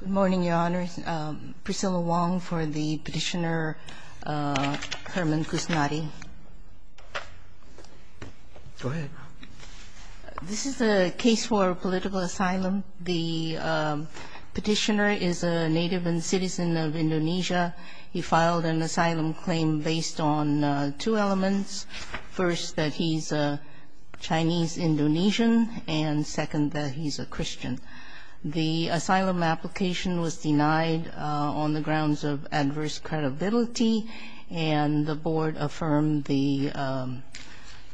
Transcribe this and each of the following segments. Good morning, Your Honors. Priscilla Wong for the petitioner Herman Kusnadi. Go ahead. This is a case for political asylum. The petitioner is a native and citizen of Indonesia. He filed an asylum claim based on two elements. First, that he's a Chinese Indonesian, and second, that he's a Christian. The asylum application was denied on the grounds of adverse credibility, and the board affirmed the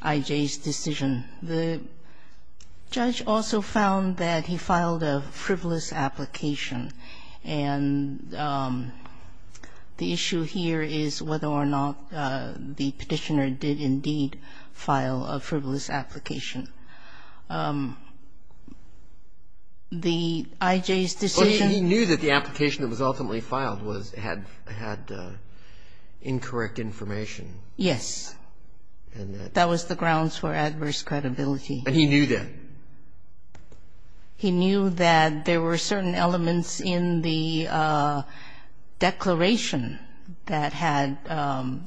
IJ's decision. The judge also found that he filed a frivolous application, and the issue here is whether or not the petitioner did indeed file a frivolous application. The IJ's decision Well, he knew that the application that was ultimately filed had incorrect information. Yes. And that That was the grounds for adverse credibility. And he knew that? He knew that there were certain elements in the declaration that had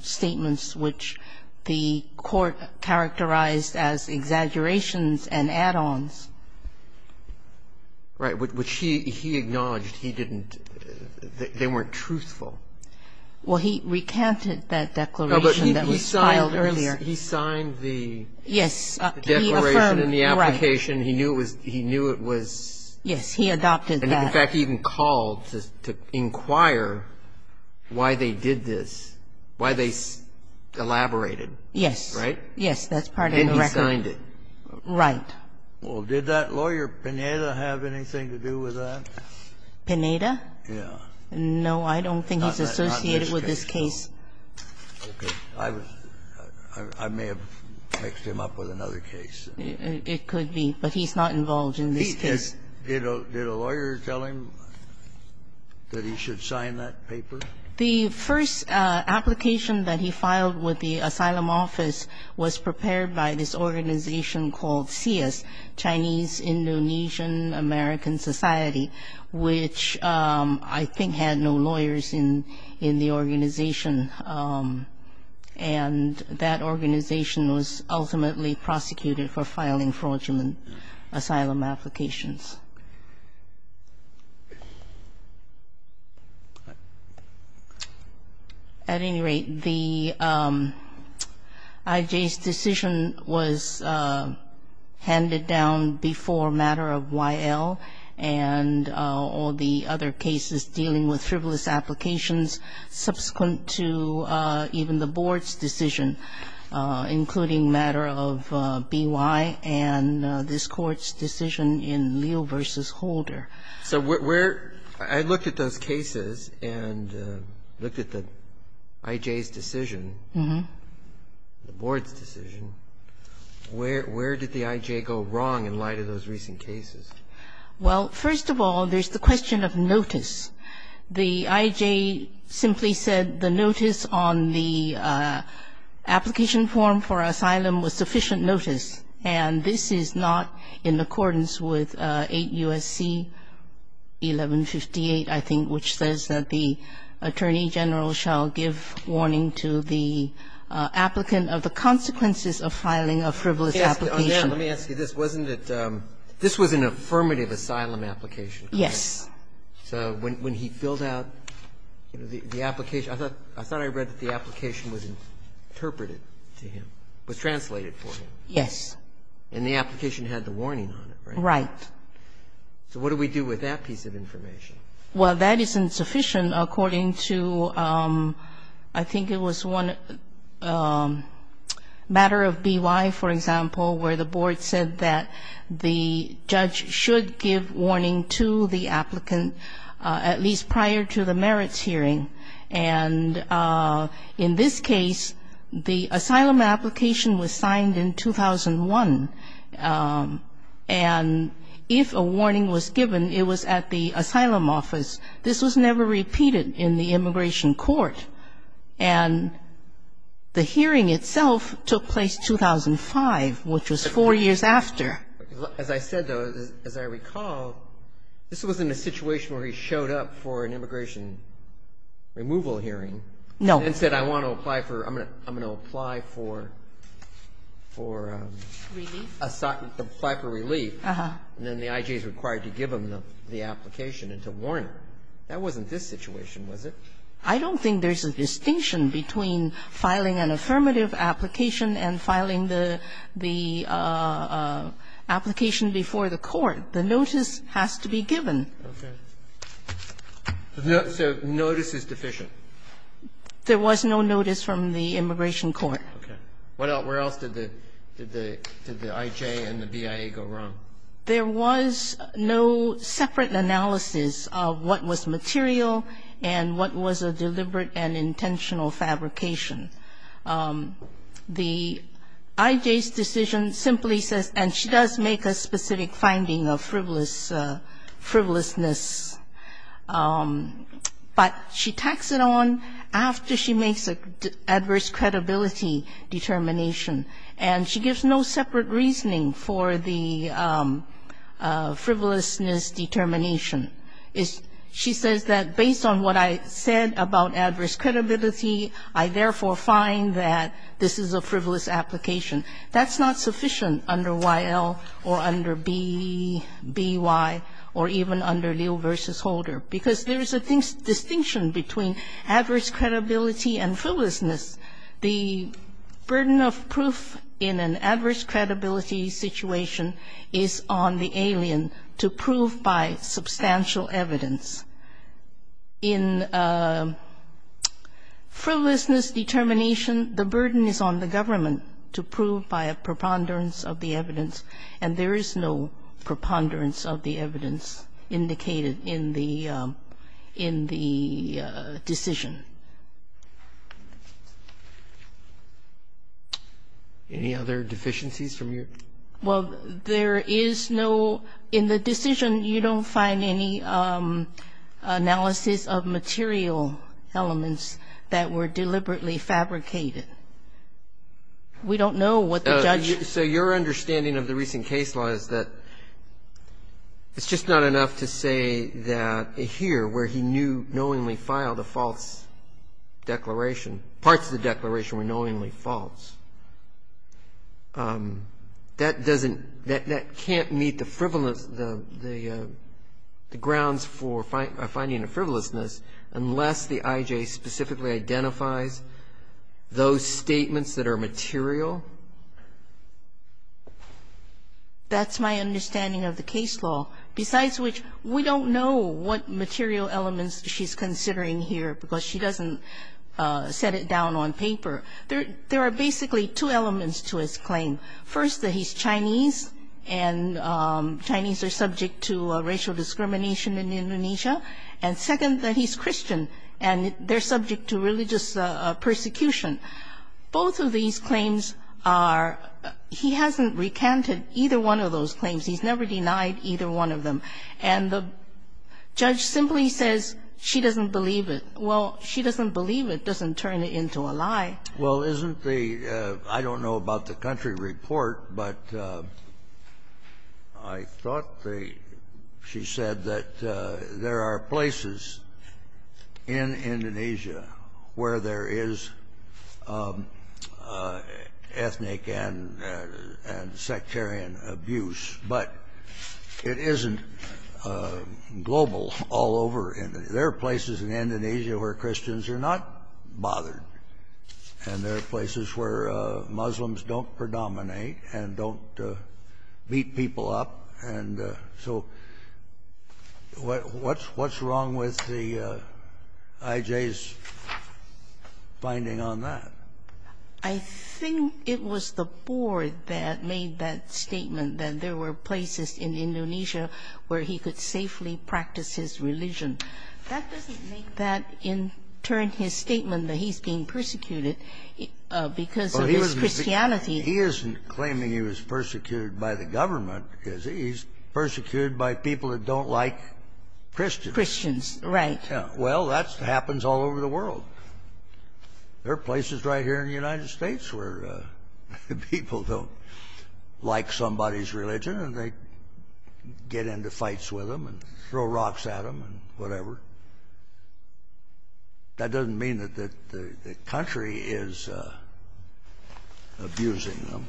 statements which the court characterized as exaggerations and add-ons. Right. Which he acknowledged he didn't they weren't truthful. Well, he recanted that declaration that was filed earlier. He signed the Yes. He affirmed, right. The declaration and the application. He knew it was Yes. He adopted that. In fact, he even called to inquire why they did this, why they elaborated. Yes. Right? Yes. That's part of the record. And he signed it. Right. Well, did that lawyer, Pineda, have anything to do with that? Pineda? Yes. No, I don't think he's associated with this case. Okay. I may have mixed him up with another case. It could be, but he's not involved in this case. Did a lawyer tell him that he should sign that paper? The first application that he filed with the asylum office was prepared by this organization Chinese Indonesian American Society, which I think had no lawyers in the organization. And that organization was ultimately prosecuted for filing fraudulent asylum applications. At any rate, the IJ's decision was handed down before matter of YL and all the other cases dealing with frivolous applications subsequent to even the board's decision, including matter of BY and this Court's decision in Liu's case. So where the IJ's decision, the board's decision, where did the IJ go wrong in light of those recent cases? Well, first of all, there's the question of notice. The IJ simply said the notice on the application form for asylum was sufficient notice, and this is not in accordance with 8 U.S.C. 1158, I think, which says that the attorney general shall give warning to the applicant of the consequences of filing a frivolous application. Let me ask you this. Wasn't it this was an affirmative asylum application? Yes. So when he filled out the application, I thought I read that the application was interpreted to him, was translated for him. Yes. And the application had the warning on it, right? Right. So what do we do with that piece of information? Well, that isn't sufficient according to, I think it was one matter of BY, for example, where the board said that the judge should give warning to the applicant at least prior to the merits hearing. And in this case, the asylum application was signed in 2001. And if a warning was given, it was at the asylum office. This was never repeated in the immigration court. And the hearing itself took place 2005, which was four years after. As I said, though, as I recall, this was in a situation where he showed up for an removal hearing and said, I want to apply for, I'm going to apply for, for a site for relief. And then the I.G. is required to give him the application and to warn him. That wasn't this situation, was it? I don't think there's a distinction between filing an affirmative application and filing the application before the court. The notice has to be given. Okay. So notice is deficient. There was no notice from the immigration court. Okay. Where else did the I.J. and the BIA go wrong? There was no separate analysis of what was material and what was a deliberate and intentional fabrication. The I.J.'s decision simply says, and she does make a specific finding of frivolous frivolousness, but she tacks it on after she makes an adverse credibility determination. And she gives no separate reasoning for the frivolousness determination. She says that based on what I said about adverse credibility, I therefore find that this is a frivolous application. That's not sufficient under Y.L. or under B.Y. or even under Liu v. Holder, because there is a distinction between adverse credibility and frivolousness. The burden of proof in an adverse credibility situation is on the alien to prove by substantial evidence. In frivolousness determination, the burden is on the government to prove by substantial evidence. And there is no preponderance of the evidence indicated in the decision. Any other deficiencies from your? Well, there is no ñ in the decision, you don't find any analysis of material elements that were deliberately fabricated. We don't know what the judge ñ So your understanding of the recent case law is that it's just not enough to say that here, where he knew ñ knowingly filed a false declaration, parts of the declaration were knowingly false. That doesn't ñ that can't meet the frivolous ñ the grounds for finding a frivolousness unless the I.J. specifically identifies those statements that are material? That's my understanding of the case law. Besides which, we don't know what material elements she's considering here, because she doesn't set it down on paper. There are basically two elements to his claim. First, that he's Chinese, and Chinese are subject to racial discrimination in Indonesia. And second, that he's Christian, and they're subject to religious persecution. Both of these claims are ñ he hasn't recanted either one of those claims. He's never denied either one of them. And the judge simply says she doesn't believe it. Well, she doesn't believe it doesn't turn it into a lie. Well, isn't the ñ I don't know about the country report, but I thought the ñ she said that there are places in Indonesia where there is ethnic and sectarian abuse, but it isn't global all over. There are places in Indonesia where Christians are not bothered. And there are places where Muslims don't predominate and don't beat people up. And so what's ñ what's wrong with the ñ I.J.'s finding on that? I think it was the board that made that statement, that there were places in Indonesia where he could safely practice his religion. That doesn't make that, in turn, his statement that he's being persecuted because of his Christianity. He isn't claiming he was persecuted by the government because he's persecuted by people that don't like Christians. Christians, right. Well, that happens all over the world. There are places right here in the United States where people don't like somebody's religion and they get into fights with them and throw rocks at them and whatever. That doesn't mean that the country is abusing them.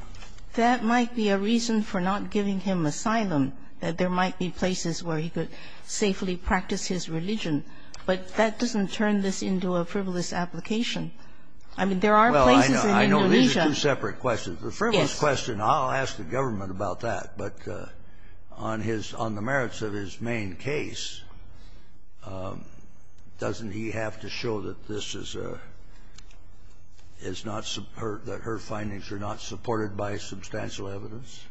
That might be a reason for not giving him asylum, that there might be places where he could safely practice his religion. But that doesn't turn this into a frivolous application. I mean, there are places in Indonesia ñ Well, I know these are two separate questions. Yes. The frivolous question, I'll ask the government about that. But on his ñ on the merits of his main case, doesn't he have to show that this is a ñ is not ñ that her findings are not supported by substantial evidence?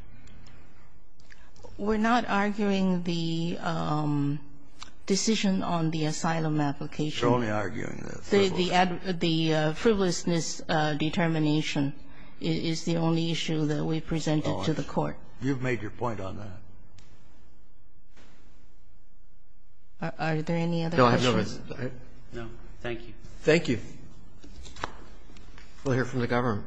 We're not arguing the decision on the asylum application. You're only arguing the frivolousness. The frivolousness determination is the only issue that we presented to the Court. You've made your point on that. Are there any other questions? No. Thank you. Thank you. We'll hear from the government.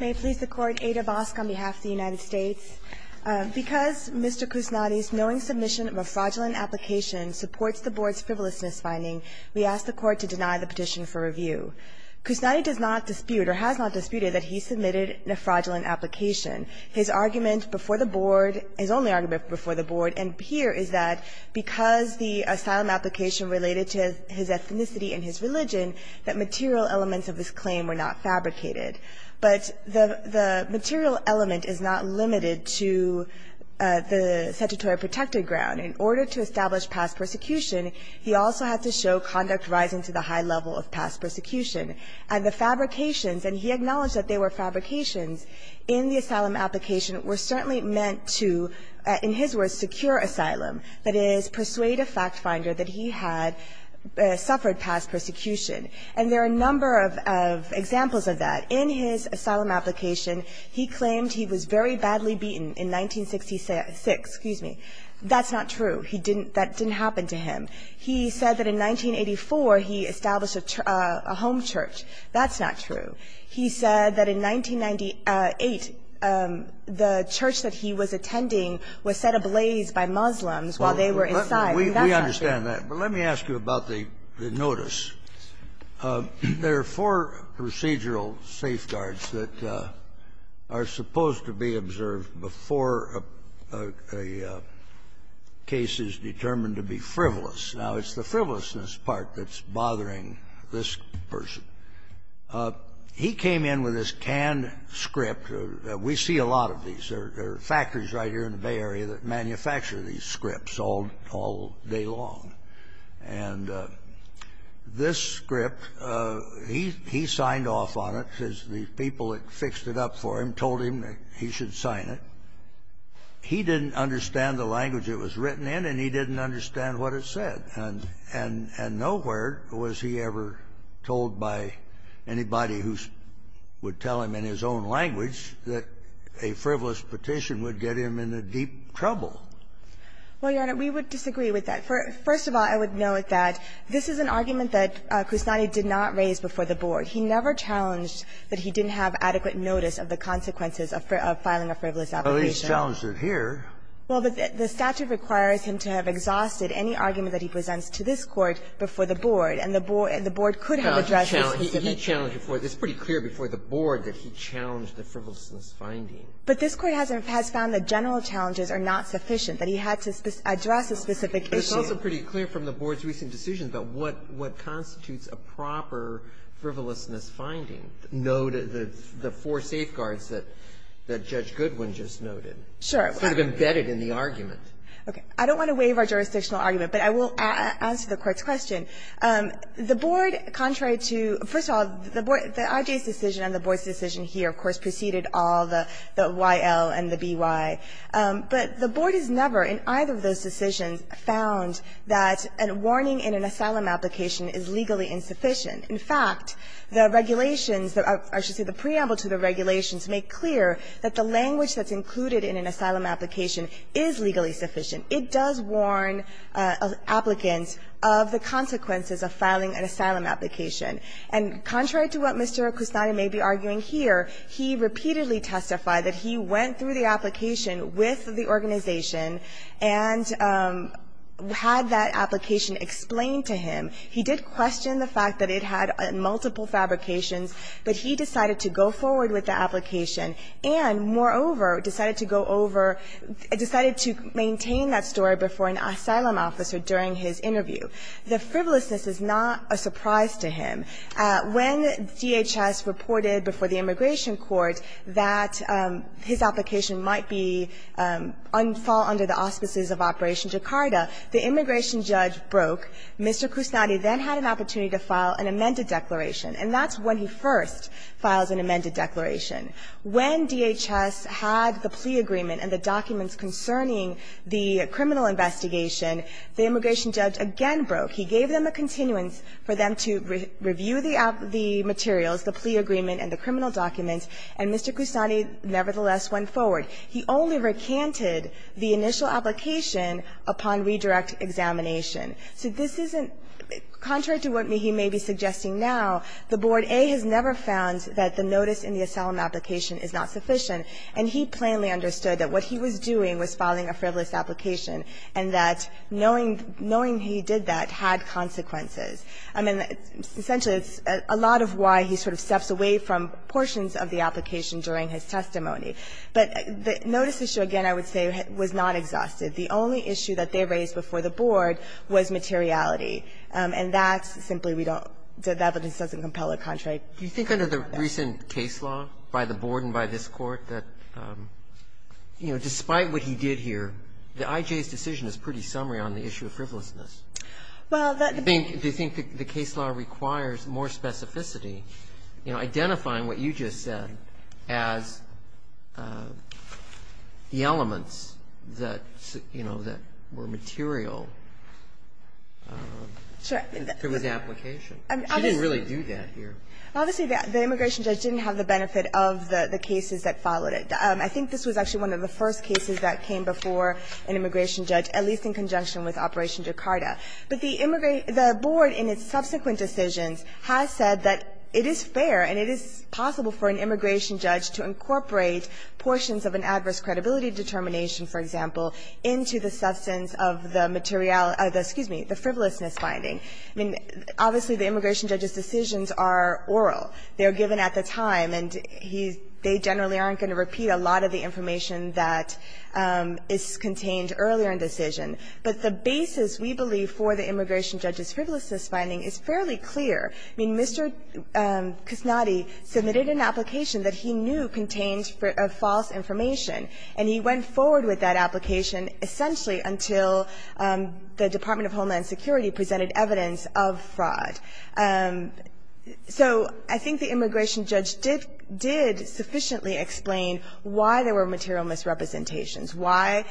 May it please the Court. Ada Bosk on behalf of the United States. Because Mr. Kusnadi's knowing submission of a fraudulent application supports the Board's frivolousness finding, we ask the Court to deny the petition for review. Kusnadi does not dispute or has not disputed that he submitted a fraudulent application. His argument before the Board ñ his only argument before the Board and here is that because the asylum application related to his ethnicity and his religion, that material elements of this claim were not fabricated. But the material element is not limited to the statutory protected ground. In order to establish past persecution, he also had to show conduct rising to the high level of past persecution. And the fabrications, and he acknowledged that they were fabrications in the asylum application, were certainly meant to, in his words, secure asylum, that is, persuade a fact finder that he had suffered past persecution. And there are a number of examples of that. In his asylum application, he claimed he was very badly beaten in 1966. Excuse me. That's not true. He didn't ñ that didn't happen to him. He said that in 1984, he established a home church. That's not true. He said that in 1998, the church that he was attending was set ablaze by Muslims while they were inside. I mean, that's not true. We understand that. But let me ask you about the notice. There are four procedural safeguards that are supposed to be observed before a case is determined to be frivolous. Now, it's the frivolousness part that's bothering this person. He came in with this canned script. We see a lot of these. There are factories right here in the Bay Area that manufacture these scripts all day long. And this script, he signed off on it, because the people that fixed it up for him told him that he should sign it. He didn't understand the language it was written in, and he didn't understand what it said. And nowhere was he ever told by anybody who would tell him in his own language that a frivolous petition would get him into deep trouble. Well, Your Honor, we would disagree with that. First of all, I would note that this is an argument that Kusnadi did not raise before the board. He never challenged that he didn't have adequate notice of the consequences of filing a frivolous application. Well, he's challenged it here. Well, but the statute requires him to have exhausted any argument that he presents to this Court before the board, and the board could have addressed this specific issue. It's pretty clear before the board that he challenged the frivolousness finding. But this Court has found that general challenges are not sufficient, that he had to address the specific issues. But it's also pretty clear from the board's recent decisions about what constitutes a proper frivolousness finding, the four safeguards that Judge Goodwin just noted. Sure. It's sort of embedded in the argument. Okay. I don't want to waive our jurisdictional argument, but I will answer the Court's question. The board, contrary to the board, the IJ's decision and the board's decision here, of course, preceded all the YL and the BY. But the board has never, in either of those decisions, found that a warning in an asylum application is legally insufficient. In fact, the regulations, or I should say the preamble to the regulations, make clear that the language that's included in an asylum application is legally sufficient. It does warn applicants of the consequences of filing an asylum application. And contrary to what Mr. Kusnada may be arguing here, he repeatedly testified that he went through the application with the organization and had that application explained to him. He did question the fact that it had multiple fabrications, but he decided to go forward with the application and, moreover, decided to go over, decided to maintain that story before an asylum officer during his interview. The frivolousness is not a surprise to him. When DHS reported before the immigration court that his application might be unfouled under the auspices of Operation Jakarta, the immigration judge broke. Mr. Kusnada then had an opportunity to file an amended declaration, and that's when he first files an amended declaration. When DHS had the plea agreement and the documents concerning the criminal investigation, the immigration judge again broke. He gave them a continuance for them to review the materials, the plea agreement and the criminal documents, and Mr. Kusnada nevertheless went forward. He only recanted the initial application upon redirect examination. So this isn't – contrary to what he may be suggesting now, the Board A has never found that the notice in the asylum application is not sufficient, and he plainly understood that what he was doing was filing a frivolous application, and that knowing – knowing he did that had consequences. I mean, essentially, it's a lot of why he sort of steps away from portions of the application during his testimony. But the notice issue, again, I would say was not exhaustive. The only issue that they raised before the Board was materiality, and that's simply we don't – that evidence doesn't compel a contract. Do you think under the recent case law by the Board and by this Court that, you know, despite what he did here, the IJ's decision is pretty summary on the issue of frivolousness? Do you think the case law requires more specificity, you know, identifying what you just said as the elements that, you know, that were material to his application? She didn't really do that here. Obviously, the immigration judge didn't have the benefit of the cases that followed it. I think this was actually one of the first cases that came before an immigration judge, at least in conjunction with Operation Jakarta. But the Board, in its subsequent decisions, has said that it is fair and it is possible for an immigration judge to incorporate portions of an adverse credibility determination, for example, into the substance of the materiality – excuse me, the frivolousness finding. I mean, obviously, the immigration judge's decisions are oral. They are given at the time, and he's – they generally aren't going to repeat a lot of the information that is contained earlier in decision. But the basis, we believe, for the immigration judge's frivolousness finding is fairly clear. I mean, Mr. Kusnadi submitted an application that he knew contained false information, and he went forward with that application essentially until the Department of Homeland Security presented evidence of fraud. So I think the immigration judge did sufficiently explain why there were material misrepresentations, why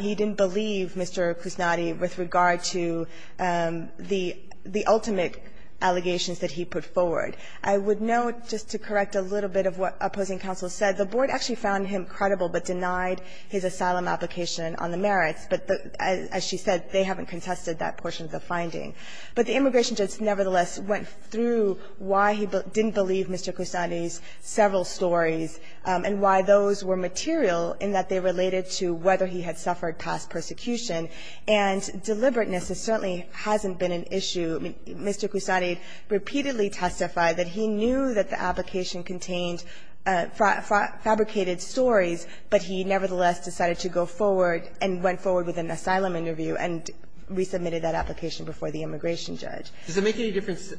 he didn't believe Mr. Kusnadi with regard to the ultimate allegations that he put forward. I would note, just to correct a little bit of what opposing counsel said, the Board actually found him credible but denied his asylum application on the merits. But as she said, they haven't contested that portion of the finding. But the immigration judge nevertheless went through why he didn't believe Mr. Kusnadi's several stories and why those were material in that they related to whether he had suffered past persecution. And deliberateness certainly hasn't been an issue. Mr. Kusnadi repeatedly testified that he knew that the application contained fabricated stories, but he nevertheless decided to go forward and went forward with an asylum interview and resubmitted that application before the immigration judge. Does it make any difference,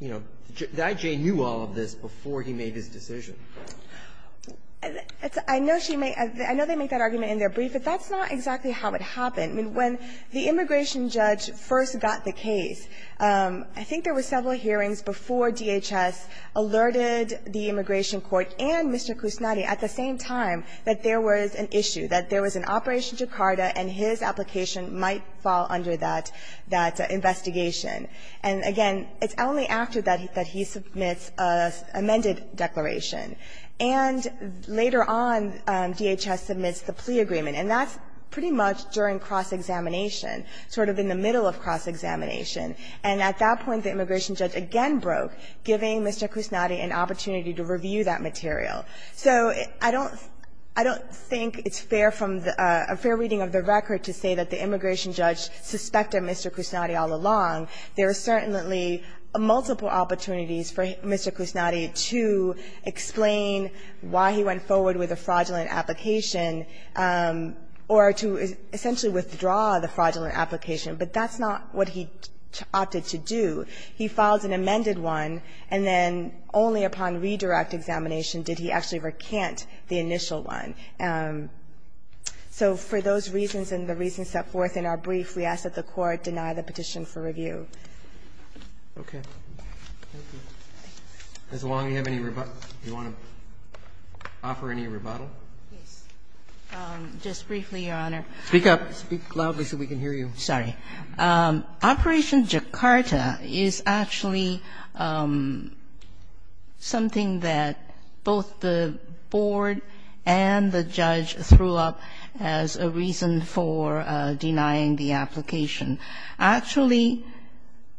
you know, did I.J. knew all of this before he made his decision? I know she made that argument in their brief, but that's not exactly how it happened. I mean, when the immigration judge first got the case, I think there were several hearings before DHS alerted the immigration court and Mr. Kusnadi at the same time that there was an issue, that there was an Operation Jakarta, and his application might fall under that investigation. And again, it's only after that that he submits an amended declaration. And later on, DHS submits the plea agreement, and that's pretty much during cross-examination, sort of in the middle of cross-examination. And at that point, the immigration judge again broke, giving Mr. Kusnadi an opportunity to review that material. So I don't think it's fair from the – a fair reading of the record to say that the immigration judge suspected Mr. Kusnadi all along. There are certainly multiple opportunities for Mr. Kusnadi to explain why he went forward with a fraudulent application or to essentially withdraw the fraudulent application, but that's not what he opted to do. He filed an amended one, and then only upon redirect examination did he actually recant the initial one. So for those reasons and the reasons set forth in our brief, we ask that the Court deny the petition for review. Roberts. As long as you have any rebuttal, do you want to offer any rebuttal? Just briefly, Your Honor. Speak up. Speak loudly so we can hear you. Sorry. Operation Jakarta is actually something that both the board and the judge threw up as a reason for denying the application. Actually,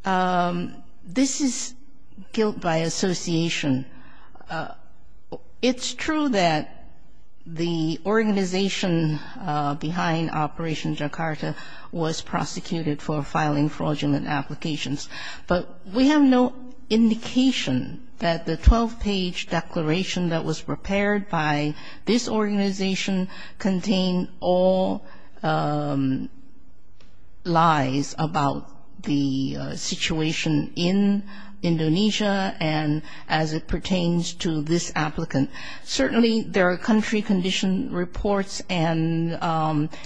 this is guilt by association. It's true that the organization behind Operation Jakarta was prosecuted for filing fraudulent applications, but we have no indication that the 12-page declaration that was prepared by this organization contained all lies about the situation in Indonesia and as it pertains to this applicant. Certainly, there are country condition reports and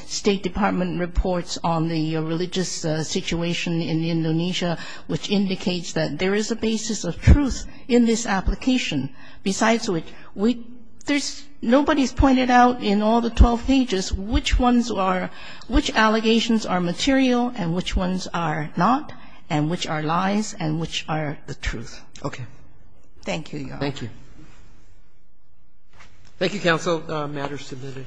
State Department reports on the religious situation in Indonesia, which indicates that there is a basis of truth in this application. Besides which, nobody's pointed out in all the 12 pages which allegations are material and which ones are not and which are lies and which are the truth. Okay. Thank you, Your Honor. Thank you. Thank you, counsel. The matter is submitted.